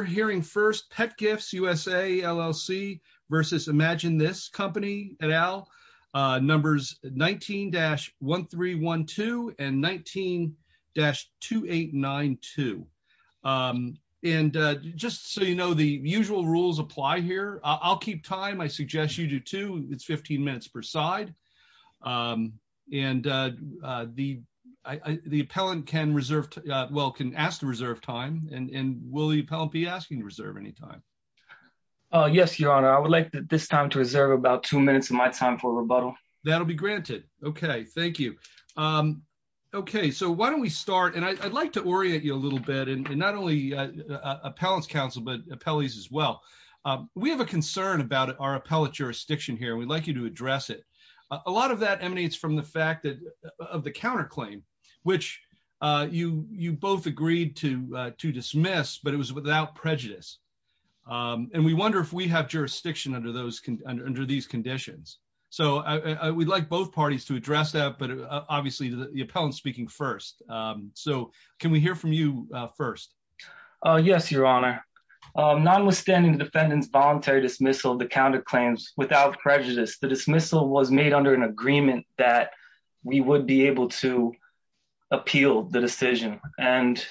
19-1312 and 19-2892 and we wonder if we have jurisdiction under those under these conditions so we'd like both parties to address that but obviously the appellant speaking first. So can we hear from you first? Yes, your Honor. Nonwithstanding the defendants voluntary dismissal of the counterclaims without prejudice the dismissal was made under an agreement that we would be able to appeal the decision and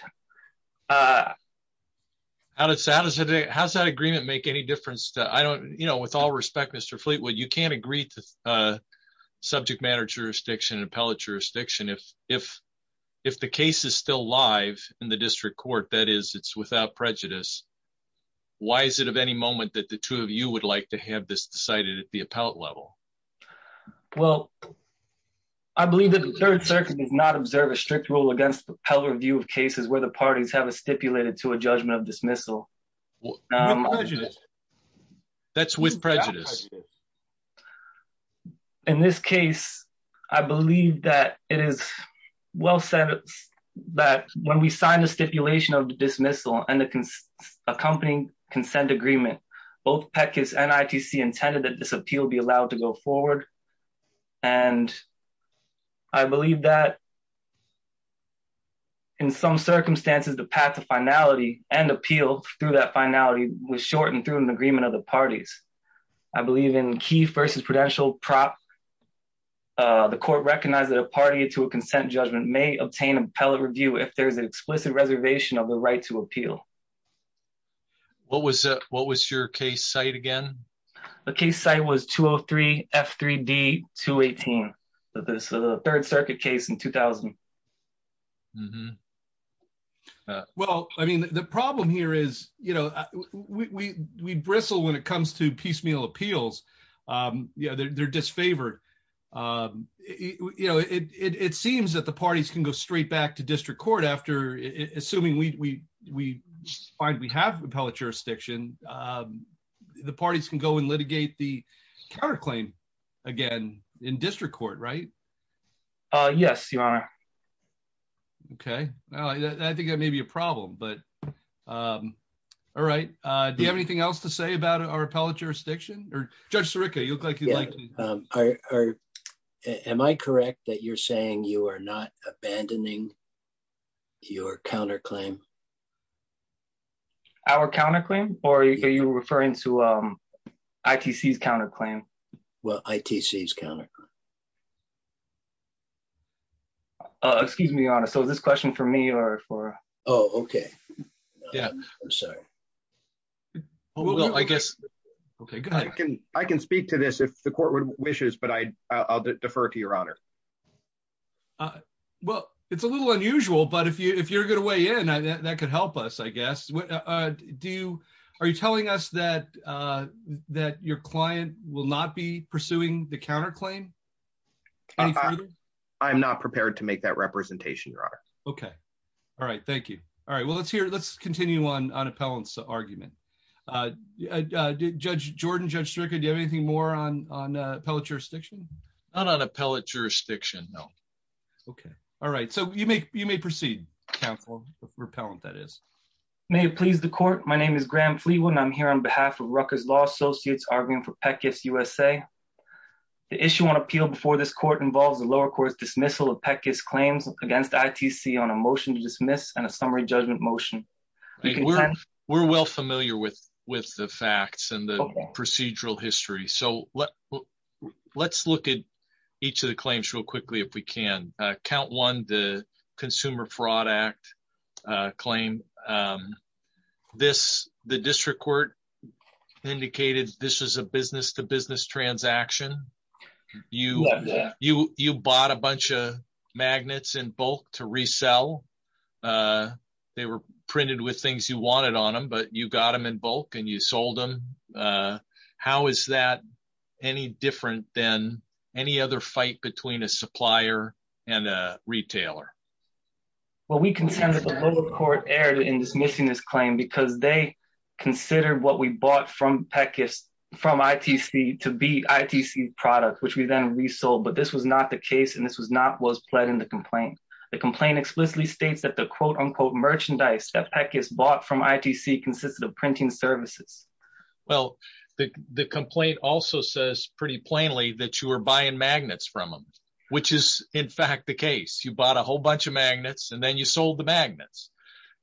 How does that agreement make any difference? With all respect Mr. Fleetwood you can't agree to subject matter jurisdiction and appellate jurisdiction if the case is still live in the district court that is it's without prejudice. Why is it of any moment that the two of you would like to have this decided at the appellate level? Well, I believe that the Third Circuit does not observe a strict rule against appellate review of cases where the parties have a stipulated to a judgment of dismissal. With prejudice? That's with prejudice. In this case, I believe that it is well said that when we signed the stipulation of the dismissal and the accompanying consent agreement both PECCIS and ITC intended that this appeal be allowed to go forward and I believe that in some circumstances the path to finality and appeal through that finality was shortened through an agreement of the parties. I believe in key versus prudential prop the court recognized that a party to a consent judgment may obtain appellate review if there is an explicit reservation of the right to appeal. What was your case site again? The case site was 203 F3D 218. This is a Third Circuit case in 2000. Well, I mean, the problem here is, you know, we bristle when it comes to piecemeal appeals. Yeah, they're disfavored. You know, it seems that the parties can go straight back to district court after assuming we find we have an appellate jurisdiction. The parties can go and litigate the counterclaim again in district court, right? Yes, you are. Okay. I think that may be a problem, but all right. Do you have anything else to say about our appellate jurisdiction or Judge Sirica? You look like you like. Am I correct that you're saying you are not abandoning your counterclaim? Our counterclaim? Or are you referring to ITC's counterclaim? Well, ITC's counterclaim. Excuse me, Your Honor. So is this question for me or for? Oh, okay. Yeah, I'm sorry. Well, I guess. Okay, go ahead. I can speak to this if the court wishes, but I'll defer to Your Honor. Well, it's a little unusual, but if you're going to weigh in, that could help us, I guess. Are you telling us that your client will not be pursuing the counterclaim? I'm not prepared to make that representation, Your Honor. Okay. All right. Thank you. All right. Well, let's continue on appellant's argument. Judge Jordan, Judge Sirica, do you have anything more on appellant's jurisdiction? No. Okay. All right. So you may proceed, counsel, repellent, that is. May it please the court. My name is Graham Fleewood, and I'm here on behalf of Rucker's Law Associates, arguing for PECAS USA. The issue on appeal before this court involves the lower court's dismissal of PECAS claims against ITC on a motion to dismiss and a summary judgment motion. We're well familiar with the facts and the procedural history. So let's look at each of the claims real quickly, if we can. Count one, the Consumer Fraud Act claim. The district court indicated this is a business-to-business transaction. You bought a bunch of magnets in bulk to resell. They were printed with things you wanted on them, but you got them in bulk and you sold them. How is that any different than any other fight between a supplier and a retailer? Well, we consent that the lower court erred in dismissing this claim because they considered what we bought from ITC to be ITC products, which we then resold. But this was not the case, and this was not what was pled in the complaint. The complaint explicitly states that the quote-unquote merchandise that PECAS bought from them was printing services. Well, the complaint also says pretty plainly that you were buying magnets from them, which is in fact the case. You bought a whole bunch of magnets and then you sold the magnets.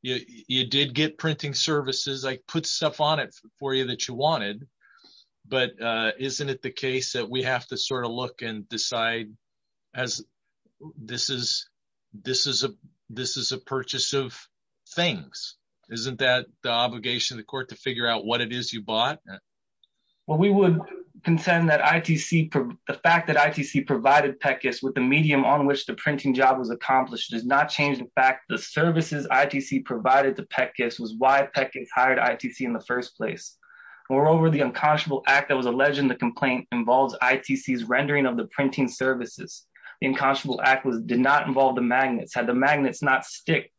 You did get printing services. I put stuff on it for you that you wanted, but isn't it the case that we have to sort of look and decide as this is a purchase of things? Isn't that the obligation of the court to figure out what it is you bought? Well, we would contend that the fact that ITC provided PECAS with the medium on which the printing job was accomplished does not change the fact the services ITC provided to PECAS was why PECAS hired ITC in the first place. Moreover, the unconscionable act that was alleged in the complaint involves ITC's rendering of the printing services. The unconscionable act did not involve the magnets. Had the magnets not sticked,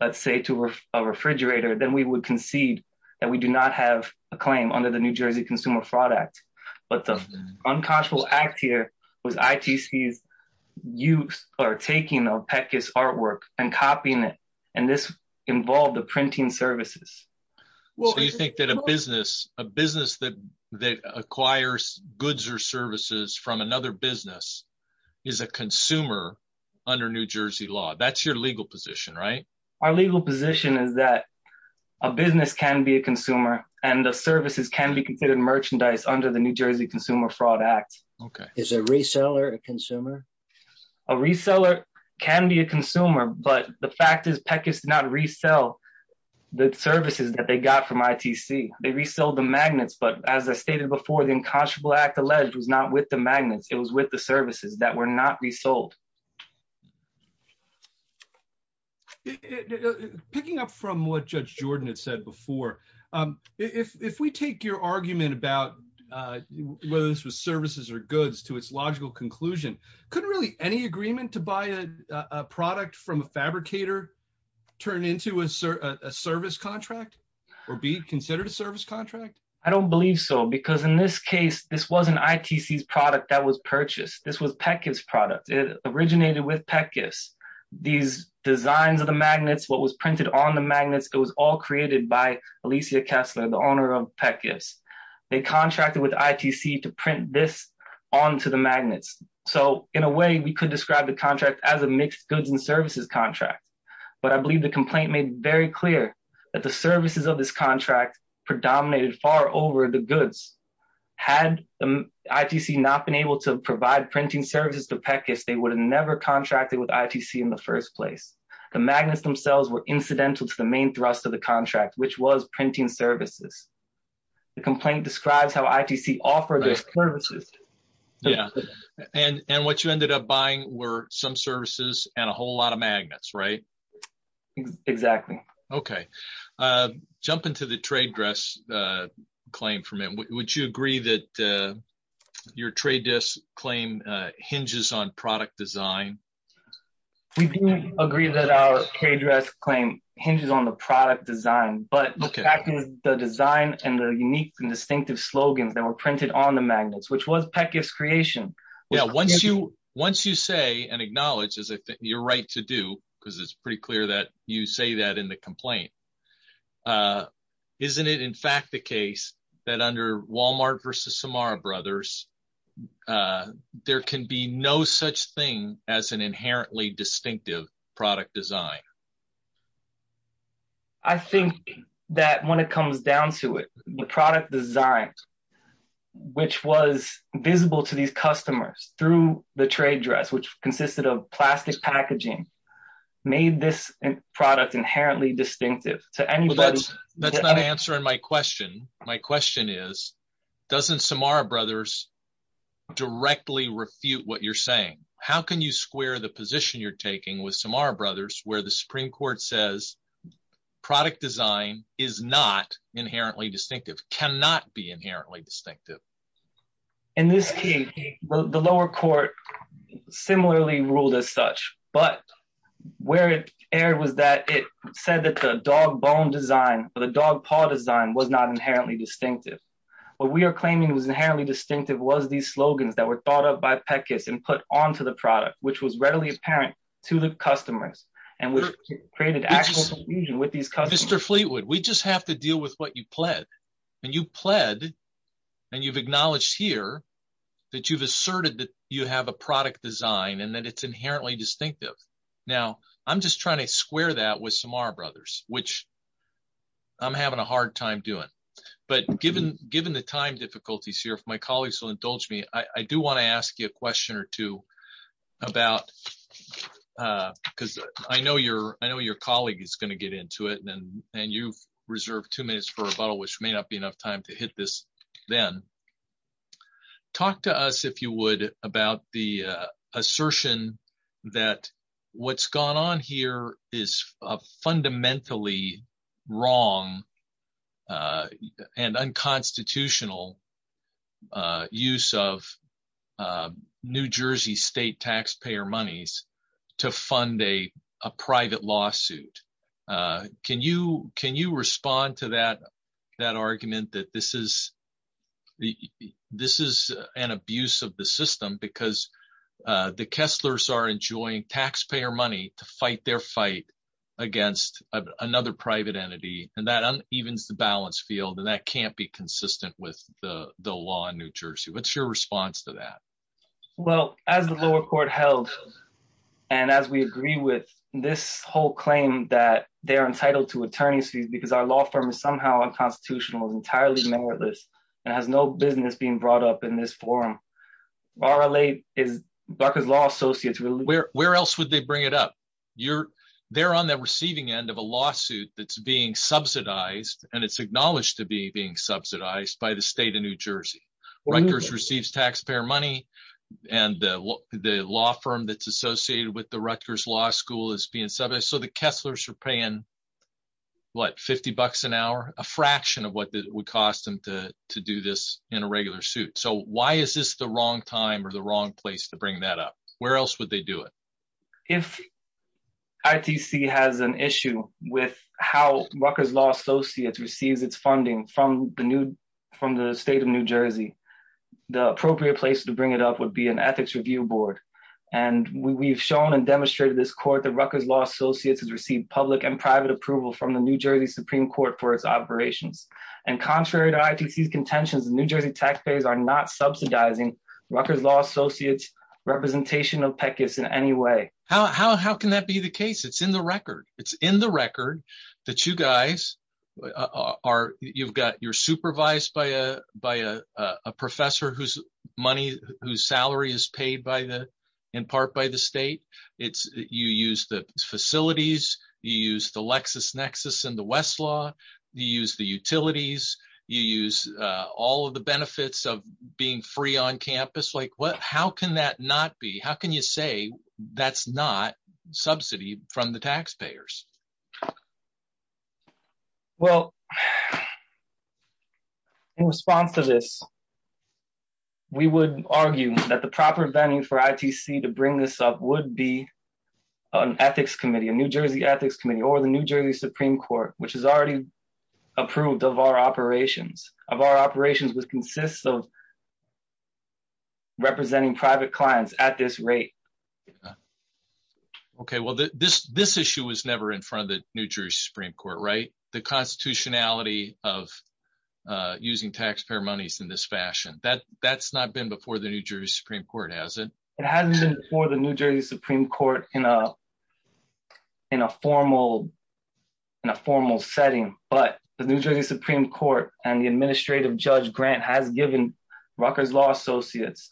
let's say, to a refrigerator, then we would concede that we do not have a claim under the New Jersey Consumer Fraud Act. But the unconscionable act here was ITC's use or taking of PECAS artwork and copying it, and this involved the printing services. So you think that a business that acquires goods or services from another business is a consumer under New Jersey law. That's your legal position, right? Our legal position is that a business can be a consumer and the services can be considered merchandise under the New Jersey Consumer Fraud Act. Is a reseller a consumer? A reseller can be a consumer, but the fact is PECAS did not resell the services that they got from ITC. They reselled the magnets, but as I stated before, the unconscionable act alleged was not with the magnets. It was with the services that were not resold. Picking up from what Judge Jordan had said before, if we take your argument about whether this was services or goods to its logical conclusion, could really any agreement to buy a product from a fabricator turn into a service contract or be considered a service contract? I don't believe so, because in this case, this wasn't ITC's product that was purchased. This was PECAS' product. It originated with PECAS. These designs of the magnets, what was printed on the magnets, it was all created by Alicia Kessler, the owner of PECAS. They contracted with ITC to print this onto the magnets. So in a way, we could describe the contract as a mixed goods and services contract, but I believe the complaint made very clear that the magnets were far over the goods. Had ITC not been able to provide printing services to PECAS, they would have never contracted with ITC in the first place. The magnets themselves were incidental to the main thrust of the contract, which was printing services. The complaint describes how ITC offered those services. Yeah, and what you ended up buying were some services and a whole lot of magnets, right? Exactly. Okay. Jumping to the trade dress claim from him, would you agree that your trade dress claim hinges on product design? We do agree that our trade dress claim hinges on the product design, but the fact is, the design and the unique and distinctive slogans that were printed on the magnets, which was PECAS' creation. Yeah, once you say and acknowledge, as I think you're right to do, because it's pretty clear that you say that in the complaint, isn't it in fact the case that under Walmart versus Samara Brothers, there can be no such thing as an inherently distinctive product design? I think that when it comes down to it, the product design, which was visible to these customers through the trade dress, which consisted of plastic packaging, made this product inherently distinctive to anybody. That's not answering my question. My question is, doesn't Samara Brothers directly refute what you're saying? How can you square the position you're taking with Samara Brothers, where the Supreme Court says product design is not inherently distinctive, cannot be inherently distinctive? In this case, the lower court similarly ruled as such, but where it erred was that it said that the dog bone design or the dog paw design was not inherently distinctive. What we are claiming was inherently distinctive was these slogans that were thought of by PECAS and put onto the product, which was readily apparent to the customers and which created actual confusion with these customers. Mr. Fleetwood, we just have to deal with what you pled. You pled, and you've acknowledged here that you've asserted that you have a product design and that it's inherently distinctive. Now, I'm just trying to square that with Samara Brothers, which I'm having a hard time doing. Given the time difficulties here, if my colleagues will indulge me, I do want to ask you a question or two, because I know your colleague is going to get into it and you've reserved two minutes for rebuttal, which may not be enough time to hit this then. Talk to us, if you would, about the assertion that what's gone on here is a fundamentally wrong and unconstitutional use of New Jersey state taxpayer monies to fund a private lawsuit. Can you respond to that argument that this is an abuse of the system because the Kesslers are enjoying taxpayer money to fight their fight against another private entity, and that unevens the balance field and that can't be consistent with the law in New Jersey. What's your response to that? Well, as the lower court held, and as we agree with this whole claim that they are entitled to attorney's fees because our law firm is somehow unconstitutional and entirely meritless and has no business being brought up in this forum, RLA is Barker's Law Associates. Where else would they bring it up? They're on the receiving end of a lawsuit that's being subsidized, and it's acknowledged to be being subsidized, by the state of New Jersey. Rutgers receives taxpayer money, and the law firm that's associated with the Rutgers Law School is being subsidized, so the Kesslers are paying, what, $50 an hour? A fraction of what it would cost them to do this in a regular suit. So why is this the wrong time or the wrong place to bring that up? Where else would they do it? If ITC has an issue with how Rutgers Law Associates receives its funding from the state of New Jersey, the appropriate place to bring it up would be an ethics review board, and we've shown and demonstrated this court that Rutgers Law Associates has received public and private approval from the New Jersey Supreme Court for its operations, and contrary to ITC's contentions, the New Jersey taxpayers are not subsidizing Rutgers Law Associates' representation of PECAS in any way. How can that be the case? It's in the record. It's in the record that you guys are, you've got, you're supervised by a professor whose money, whose salary is paid by the, in part by the state. It's, you use the facilities, you use the LexisNexis and the Westlaw, you use the utilities, you use all of the benefits of being free on campus. Like, what, how can that not be? How can you say that's not subsidy from the taxpayers? Well, in response to this, we would argue that the proper venue for ITC to bring this up would be an ethics committee, a New Jersey ethics committee or the New Jersey Supreme Court, which has already approved of our operations, of our operations, which consists of representing private clients at this rate. Okay. Well, this, this issue was never in front of the New Jersey Supreme Court, right? The constitutionality of using taxpayer monies in this fashion, that, that's not been before the New Jersey Supreme Court, has it? It hasn't been before the New Jersey Supreme Court in a, in a formal, in a formal setting, but the New Jersey Supreme Court and the administrative judge Grant has given Rutgers Law Associates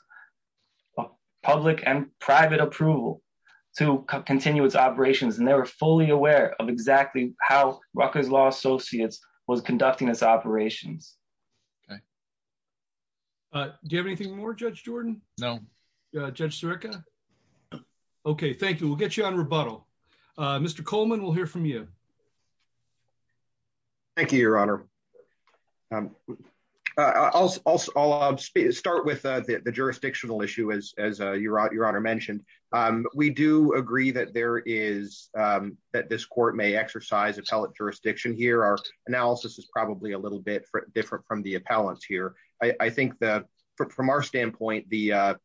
public and private approval to continue its operations. And they were fully aware of exactly how Rutgers Law Associates was conducting its operations. Okay. Do you have anything more, Judge Jordan? No. Judge Sirica? Okay. Thank you. We'll get you on rebuttal. Mr. Coleman, we'll hear from you. Thank you, Your Honor. I'll start with the jurisdictional issue, as Your Honor mentioned. We do agree that there is, that this court may exercise appellate jurisdiction here. Our analysis is probably a little bit different from the appellant's here. I think that from our standpoint, the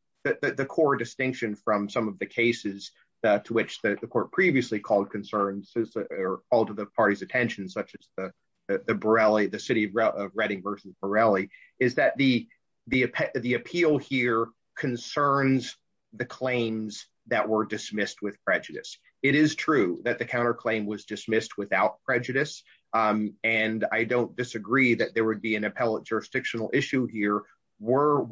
core distinction from some of the cases to which the court previously called concerns or all to the party's attention, such as the Borelli, the city of Reading versus Borelli, is that the appeal here concerns the claims that were dismissed with prejudice. It is true that the counterclaim was dismissed without prejudice. And I don't disagree that there would be an appellate jurisdictional issue here. Were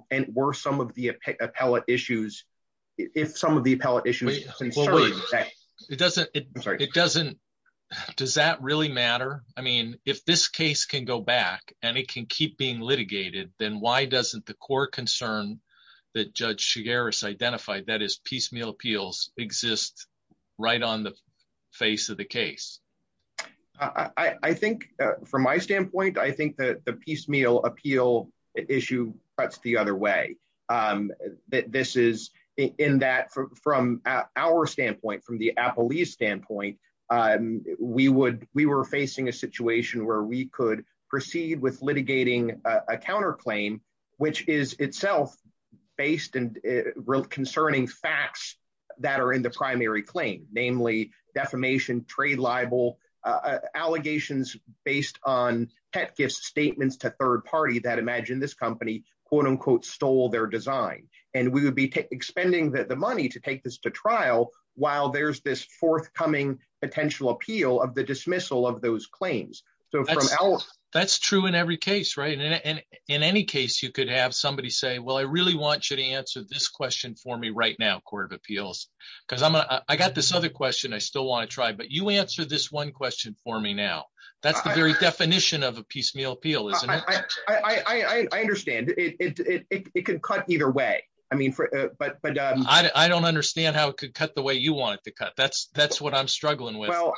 some of the appellate issues, if some of the appellate issues were considered. It doesn't, it doesn't, does that really matter? I mean, if this case can go back and it can keep being litigated, then why doesn't the core concern that Judge Chigueras identified, that is piecemeal appeals, exist right on the face of the case? I think from my standpoint, I think that the piecemeal appeal issue cuts the other way. This is in that from our standpoint, from the appellee's standpoint, we were facing a situation where we could proceed with litigating a counterclaim, which is itself based and concerning facts that are in the primary claim, namely defamation, trade libel, allegations based on pet gifts, statements to third party that imagine this company, quote unquote, stole their design. And we would be expending the money to take this to trial while there's this forthcoming potential appeal of the dismissal of those claims. That's true in every case, right? And in any case, you could have somebody say, well, I really want you to answer this question for me right now, Court of Appeals, because I got this other question I still want to try, but you answer this one question for me now. That's the very definition of a piecemeal appeal, isn't it? I understand it. It could cut either way. I mean, but I don't understand how it could cut the way you want it to cut. That's that's what I'm struggling with. Well,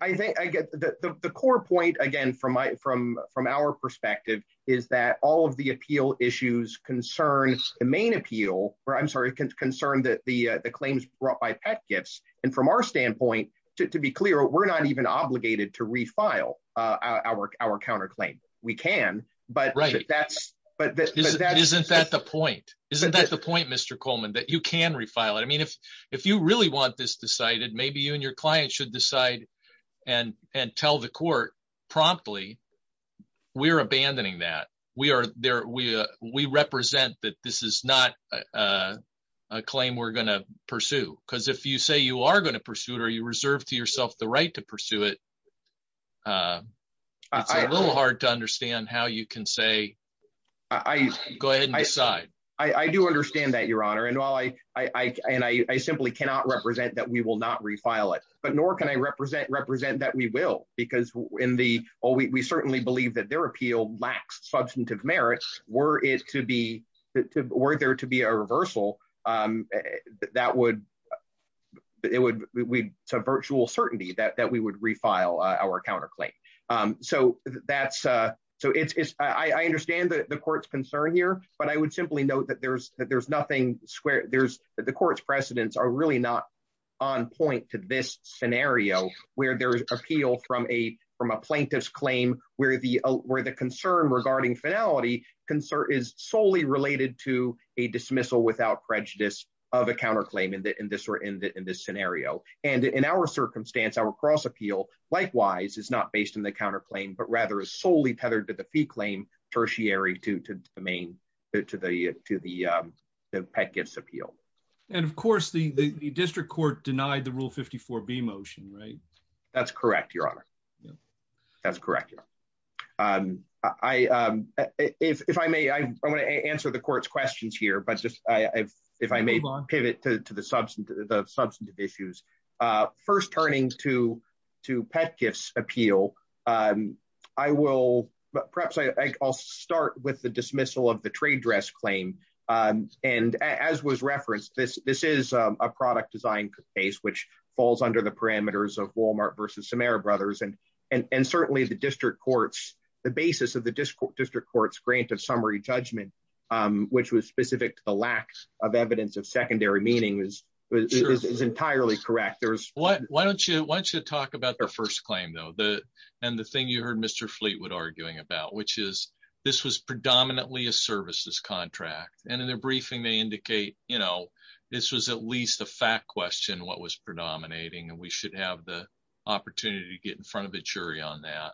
I think I get the core point again from my from from our perspective is that all of the appeal issues concern the main appeal or I'm sorry, concerned that the claims brought by pet gifts. And from our standpoint, to be clear, we're not even obligated to refile our our counterclaim. We can, but that's but that isn't that the point? Isn't that the point, Mr. Coleman, that you can refile it? I mean, if if you really want this decided, maybe you and your client should decide and and tell the court promptly. We're abandoning that. We are there. We represent that this is not a claim we're going to pursue, because if you say you are going to pursue it or you reserve to yourself the right to pursue it. It's a little hard to understand how you can say I go ahead and decide. I do understand that, Your Honor. And while I and I simply cannot represent that we will not refile it, but nor can I represent represent that we will, because in the oh, we certainly believe that their appeal lacks substantive merits. Were it to be that were there to be a reversal that would it would it would be a reversal. It's a virtual certainty that that we would refile our counterclaim. So that's so it's I understand that the court's concern here. But I would simply note that there's that there's nothing square. There's the court's precedents are really not on point to this scenario where there's appeal from a from a plaintiff's claim where the where the concern regarding finality concern is solely related to a dismissal without prejudice of a counterclaim in this or in this scenario. And in our circumstance, our cross appeal likewise is not based in the counterclaim, but rather is solely tethered to the fee claim tertiary to the main to the to the pet gifts appeal. And of course, the district court denied the rule 54 B motion, right? That's correct, Your Honor. That's correct. I if I may, I want to answer the court's questions here. But just if I may pivot to the substance, the substantive issues first turning to to pet gifts appeal, I will perhaps I'll start with the dismissal of the trade dress claim. And as was referenced, this this is a product design case which falls under the parameters of Wal-Mart versus Samara Brothers. And and certainly the district courts, the basis of the district court's grant of summary judgment, which was specific to the lack of evidence of secondary meaning is is entirely correct. There is. Why don't you why don't you talk about their first claim, though? And the thing you heard Mr. Fleetwood arguing about, which is this was predominantly a services contract. And in their briefing, they indicate, you know, this was at least a fact question. What was predominating? And we should have the opportunity to get in front of a jury on that.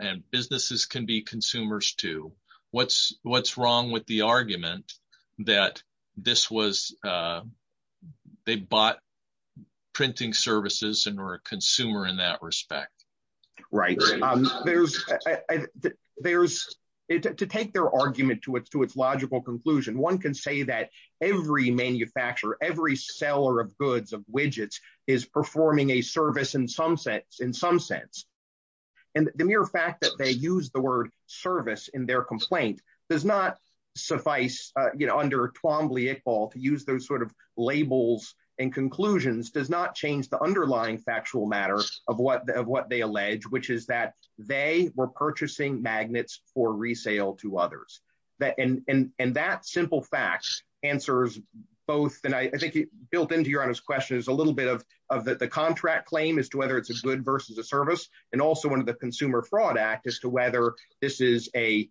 And businesses can be consumers, too. What's what's wrong with the argument that this was they bought printing services and were a consumer in that respect? Right. There's there's to take their argument to it, to its logical conclusion. One can say that every manufacturer, every seller of goods, of widgets is performing a service in some sense, in some sense. And the mere fact that they use the word service in their complaint does not suffice. Under Twombly Iqbal to use those sort of labels and conclusions does not change the underlying factual matter of what of what they allege, which is that they were purchasing magnets for resale to others. And that simple fact answers both. And I think it built into your honest question is a little bit of the contract claim as to whether it's a good versus a service and also one of the Consumer Fraud Act as to whether this is a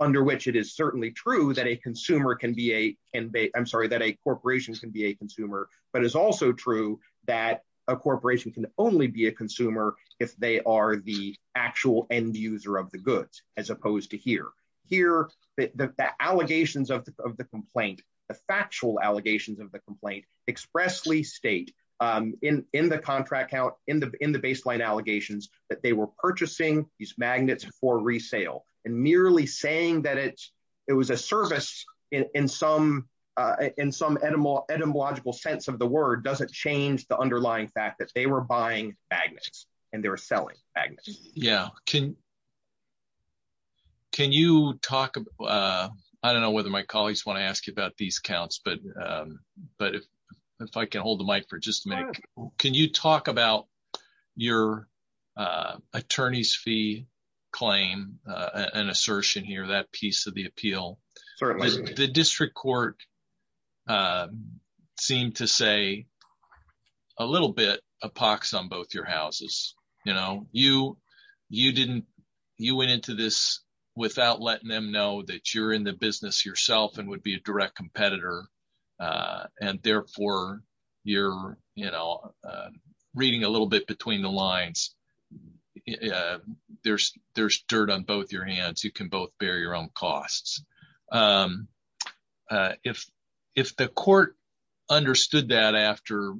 under which it is certainly true that a consumer can be a and I'm sorry that a corporation can be a consumer. But it's also true that a corporation can only be a consumer if they are the actual end user of the goods, as opposed to here, here, the allegations of the complaint, the factual allegations of the complaint expressly state in the contract out in the in the baseline allegations that they were purchasing these magnets for resale and merely saying that it's it was a service in some in some animal etymological sense of the word doesn't change the underlying fact that they were buying magnets and they were selling magnets. Yeah. Can. Can you talk about I don't know whether my colleagues want to ask about these counts, but but if if I can hold the mic for just a minute, can you talk about your attorney's fee claim? An assertion here, that piece of the appeal for the district court seemed to say a little bit of pox on both your houses. You know, you you didn't you went into this without letting them know that you're in the business yourself and would be a direct competitor. And therefore, you're, you know, reading a little bit between the lines. Yeah, there's there's dirt on both your hands. You can both bear your own costs. If if the court understood that after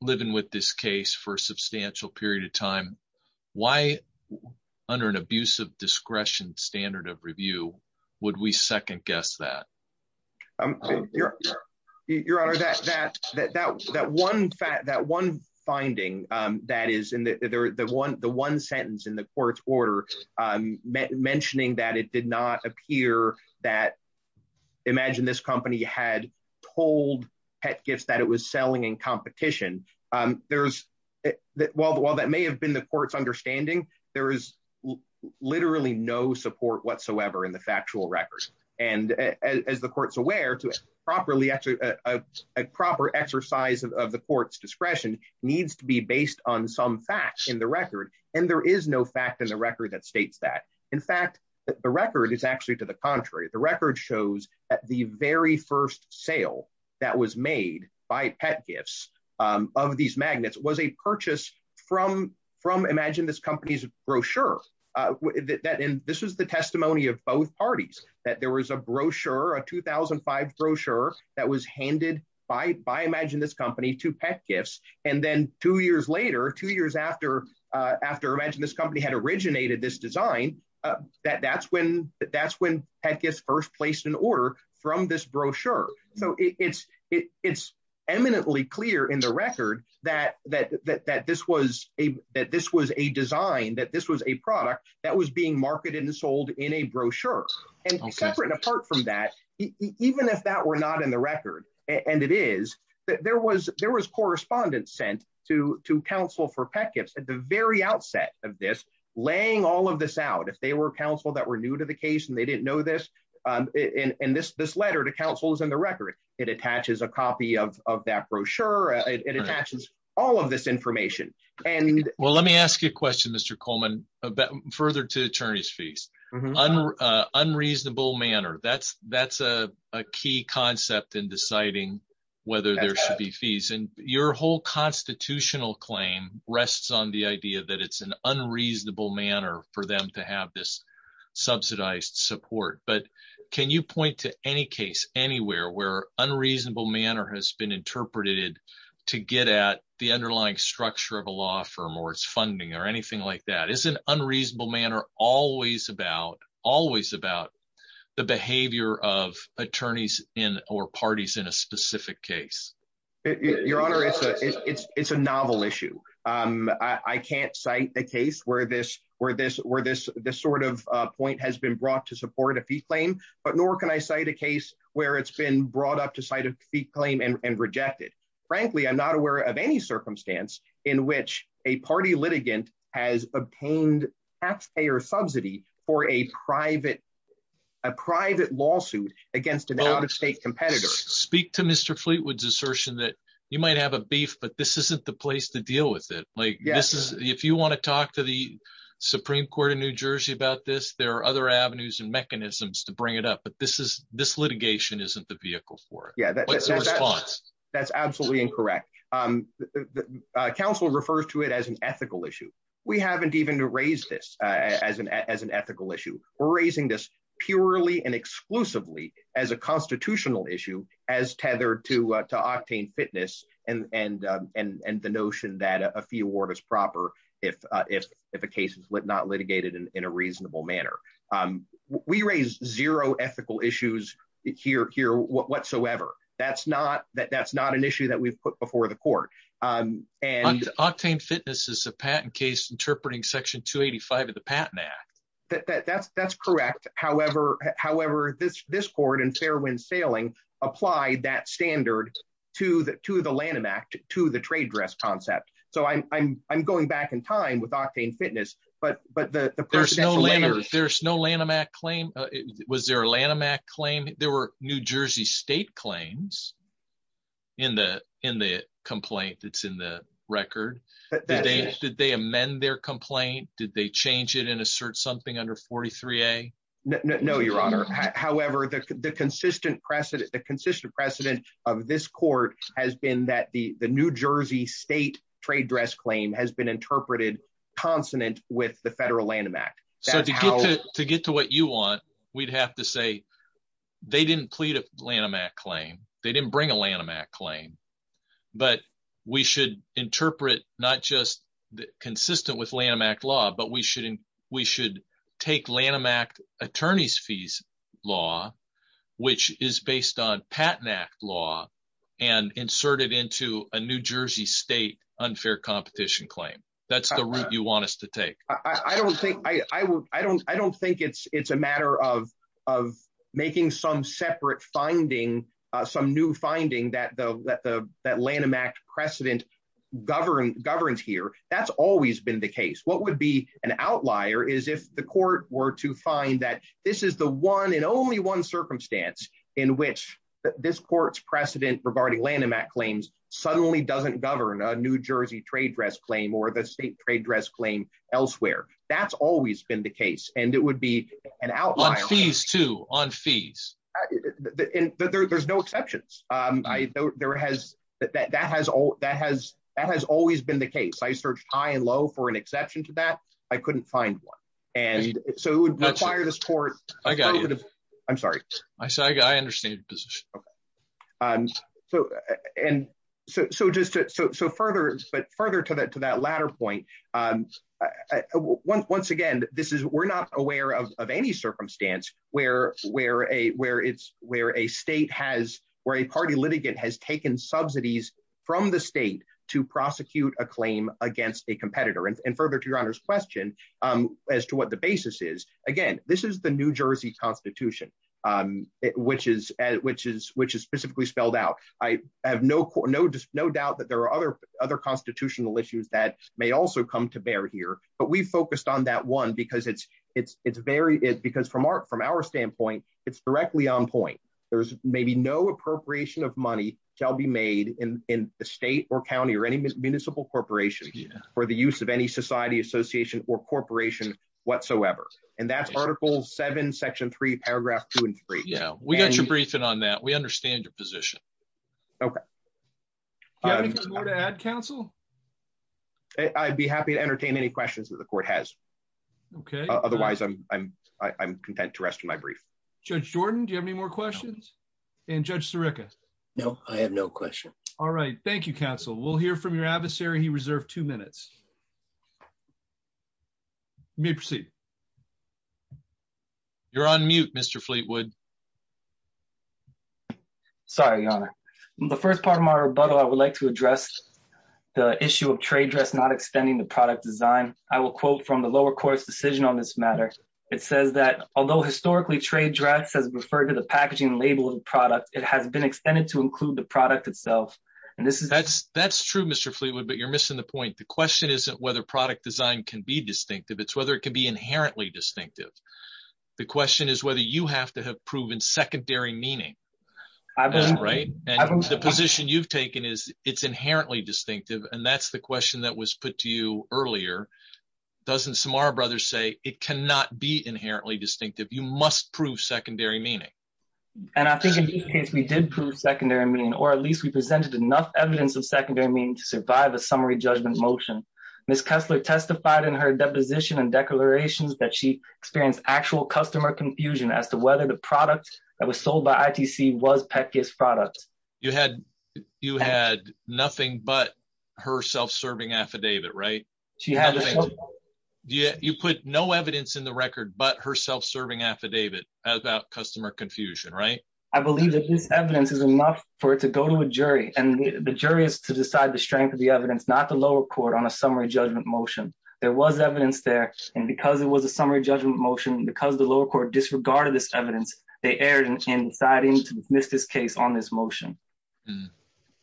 living with this case for a substantial period of time, why under an abuse of discretion standard of review, would we second guess that your your honor, that that that that one fact, that one finding that is in the one the one sentence in the court's order mentioning that it did not appear that imagine this company had told pet gifts that it was selling in competition. There's that while while that may have been the court's understanding, there is literally no support whatsoever in the factual records. And as the court's aware to properly actually a proper exercise of the court's discretion needs to be based on some facts in the record. And there is no fact in the record that states that, in fact, the record is actually to the contrary. The record shows that the very first sale that was made by pet gifts of these magnets was a purchase from from imagine this company's brochure that this was the testimony of both parties that there was a brochure, a 2005 brochure that was handed by by imagine this company to pet gifts. And then two years later, two years after after imagine this company had originated this design, that that's when that's when pet gifts first placed in order from this brochure. So it's it's eminently clear in the record that that that this was a that this was a design, that this was a product that was being marketed and sold in a brochure. And separate and apart from that, even if that were not in the record and it is that there was there was correspondence sent to to counsel for pet gifts at the very outset of this laying all of this out. If they were counsel that were new to the case and they didn't know this in this this letter to counsel is in the record. It attaches a copy of that brochure. It attaches all of this information. And well, let me ask you a question, Mr. Coleman, about further to attorneys fees on unreasonable manner. That's that's a key concept in deciding whether there should be fees. And your whole constitutional claim rests on the idea that it's an unreasonable manner for them to have this subsidized support. But can you point to any case anywhere where unreasonable manner has been interpreted to get at the underlying structure of a law firm or its funding or anything like that is an unreasonable manner always about always about the behavior of attorneys in or parties in a specific case? Your Honor, it's a it's a novel issue. I can't cite a case where this where this where this this sort of point has been brought to support a fee claim, but nor can I cite a case where it's been brought up to cite a fee claim and rejected. Frankly, I'm not aware of any circumstance in which a party litigant has obtained taxpayer subsidy for a private a private lawsuit against an out-of-state competitor. Speak to Mr. Fleetwood's assertion that you might have a beef, but this isn't the place to deal with it. Like this is if you want to talk to the Supreme Court in New Jersey about this, there are other avenues and mechanisms to bring it up. But this is this litigation isn't the vehicle for it. Yeah, that's a response. That's absolutely incorrect. The council refers to it as an ethical issue. We haven't even to raise this as an as an ethical issue. We're raising this purely and exclusively as a constitutional issue as tethered to to octane fitness and and and and the notion that a fee award is proper. If if if a case is lit not litigated in a reasonable manner. We raise zero ethical issues here here whatsoever. That's not that that's not an issue that we've put before the court and octane fitness is a patent case interpreting section 285 of the Patent Act that that's that's correct. However, however, this this court and Fairwind sailing apply that standard to the to the Lanham Act to the trade dress concept. So I'm going back in time with octane fitness, but but there's no later. There's no Lanham Act claim. It was their Lanham Act claim. There were New Jersey state claims in the in the complaint that's in the record that they did. They amend their complaint. Did they change it and assert something under 43a? No, your honor. However, the consistent precedent the consistent precedent of this court has been that the the New Jersey state trade dress claim has been interpreted consonant with the federal Lanham Act. So to get to get to what you want we'd have to say they didn't plead a Lanham Act claim. They didn't bring a Lanham Act claim, but we should interpret not just consistent with Lanham Act law, but we should we should take Lanham Act attorneys fees law, which is based on Patent Act law and insert it into a New Jersey state unfair competition claim. That's the route you want us to take. I don't think I will. I don't I don't think it's it's a matter of of making some separate finding some new finding that the that the that Lanham Act precedent govern governs here. That's always been the case. What would be an outlier is if the court were to find that this is the one and only one circumstance in which this court's precedent regarding Lanham Act claims suddenly doesn't govern a New Jersey trade dress claim or the state trade dress claim elsewhere. That's always been the case and it would be an outlier fees to on fees that there's no exceptions. I know there has that that has all that has that has always been the case. I searched high and low for an exception to that. I couldn't find one and so it would require this court. I got it. I'm sorry. I said I got I understand your position. Okay. And so and so just so further but further to that to that latter point once again, this is we're not aware of any circumstance where where a where it's where a state has where a party litigant has taken subsidies from the state to prosecute a claim against a competitor and further to your honor's question as to what the basis is again, this is the New Jersey Constitution, which is as a matter of fact, the New Jersey Constitution, which is which is specifically spelled out. I have no no just no doubt that there are other other constitutional issues that may also come to bear here. But we focused on that one because it's it's it's very it because from our from our standpoint, it's directly on point. There's maybe no appropriation of money shall be made in the state or county or any municipal corporation for the use of any society, association or corporation whatsoever. And that's article seven, section three, paragraph two and three. Yeah, we got your briefing on that. We understand your position. Okay. I'm going to add counsel. I'd be happy to entertain any questions that the court has. Okay. Otherwise, I'm I'm I'm content to rest of my brief. Judge Jordan, do you have any more questions? And Judge Sirica? No, I have no question. All right. Thank you, counsel. We'll hear from your adversary. He reserved two minutes. May proceed. You're on mute, Mr. Fleetwood. Sorry, your honor. The first part of my rebuttal, I would like to address the issue of trade dress, not extending the product design. I will quote from the lower court's decision on this matter. It says that although historically trade dress has referred to the packaging label of the product, it has been referred to the packaging label of the product. And this is that's that's true, Mr. Fleetwood. But you're missing the point. The question isn't whether product design can be distinctive. It's whether it can be inherently distinctive. The question is whether you have to have proven secondary meaning. I've been right. The position you've taken is it's inherently distinctive. And that's the question that was put to you earlier. Doesn't Samara Brothers say it cannot be inherently distinctive? You must prove secondary meaning. And I think in this case, we did prove secondary meaning, or at least we presented enough evidence of secondary meaning to survive a summary judgment motion. Miss Kessler testified in her deposition and declarations that she experienced actual customer confusion as to whether the product that was sold by ITC was Peck's product. You had you had nothing but her self-serving affidavit, right? She had. You put no evidence in the record but her self-serving affidavit about customer confusion, right? I believe that this evidence is enough for it to go to a jury. And the jury is to decide the strength of the evidence, not the lower court on a summary judgment motion. There was evidence there. And because it was a summary judgment motion, because the lower court disregarded this evidence, they erred in deciding to dismiss this case on this motion.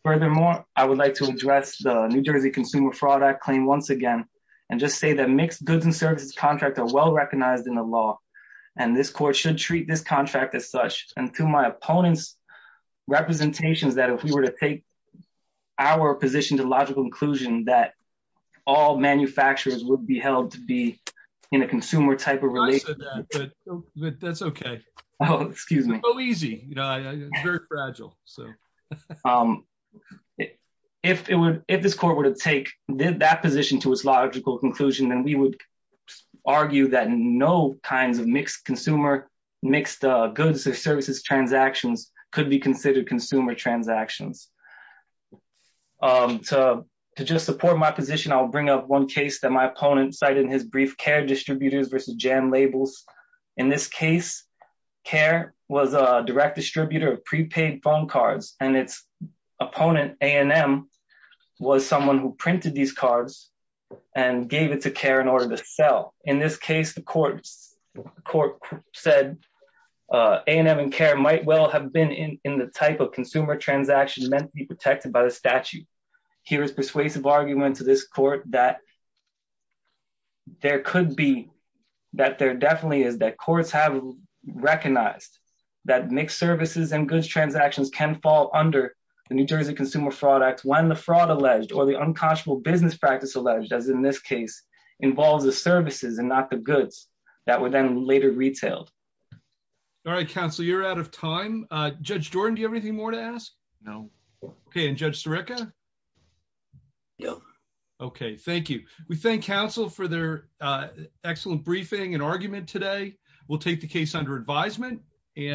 Furthermore, I would like to address the New Jersey Consumer Fraud Act claim once again and just say that mixed goods and services contracts are well recognized in the law, and this court should treat this contract as such. And to my opponent's representations that if we were to take our position to logical inclusion, that all manufacturers would be held to be in a consumer type of relationship. I said that, but that's okay. Oh, excuse me. It's so easy. It's very fragile. If this court were to take that position to its logical inclusion, then we would argue that no kinds of mixed consumer, mixed goods or services transactions could be considered consumer transactions. To just support my position, I'll bring up one case that my opponent cited in his brief care distributors versus jam labels. In this case, care was a direct distributor of prepaid phone cards, and its opponent, A&M, was someone who distributed to care in order to sell. In this case, the court said A&M and care might well have been in the type of consumer transaction meant to be protected by the statute. Here is persuasive argument to this court that there could be, that there definitely is, that courts have recognized that mixed services and goods transactions can fall under the New Jersey Consumer Fraud Act when the fraud alleged or the unconscionable business practice alleged, as in this case, involves the services and not the goods that were then later retailed. All right, counsel, you're out of time. Judge Jordan, do you have anything more to ask? No. Okay, and Judge Sirica? No. Okay, thank you. We thank counsel for their excellent briefing and argument today. We'll take the case under advisement.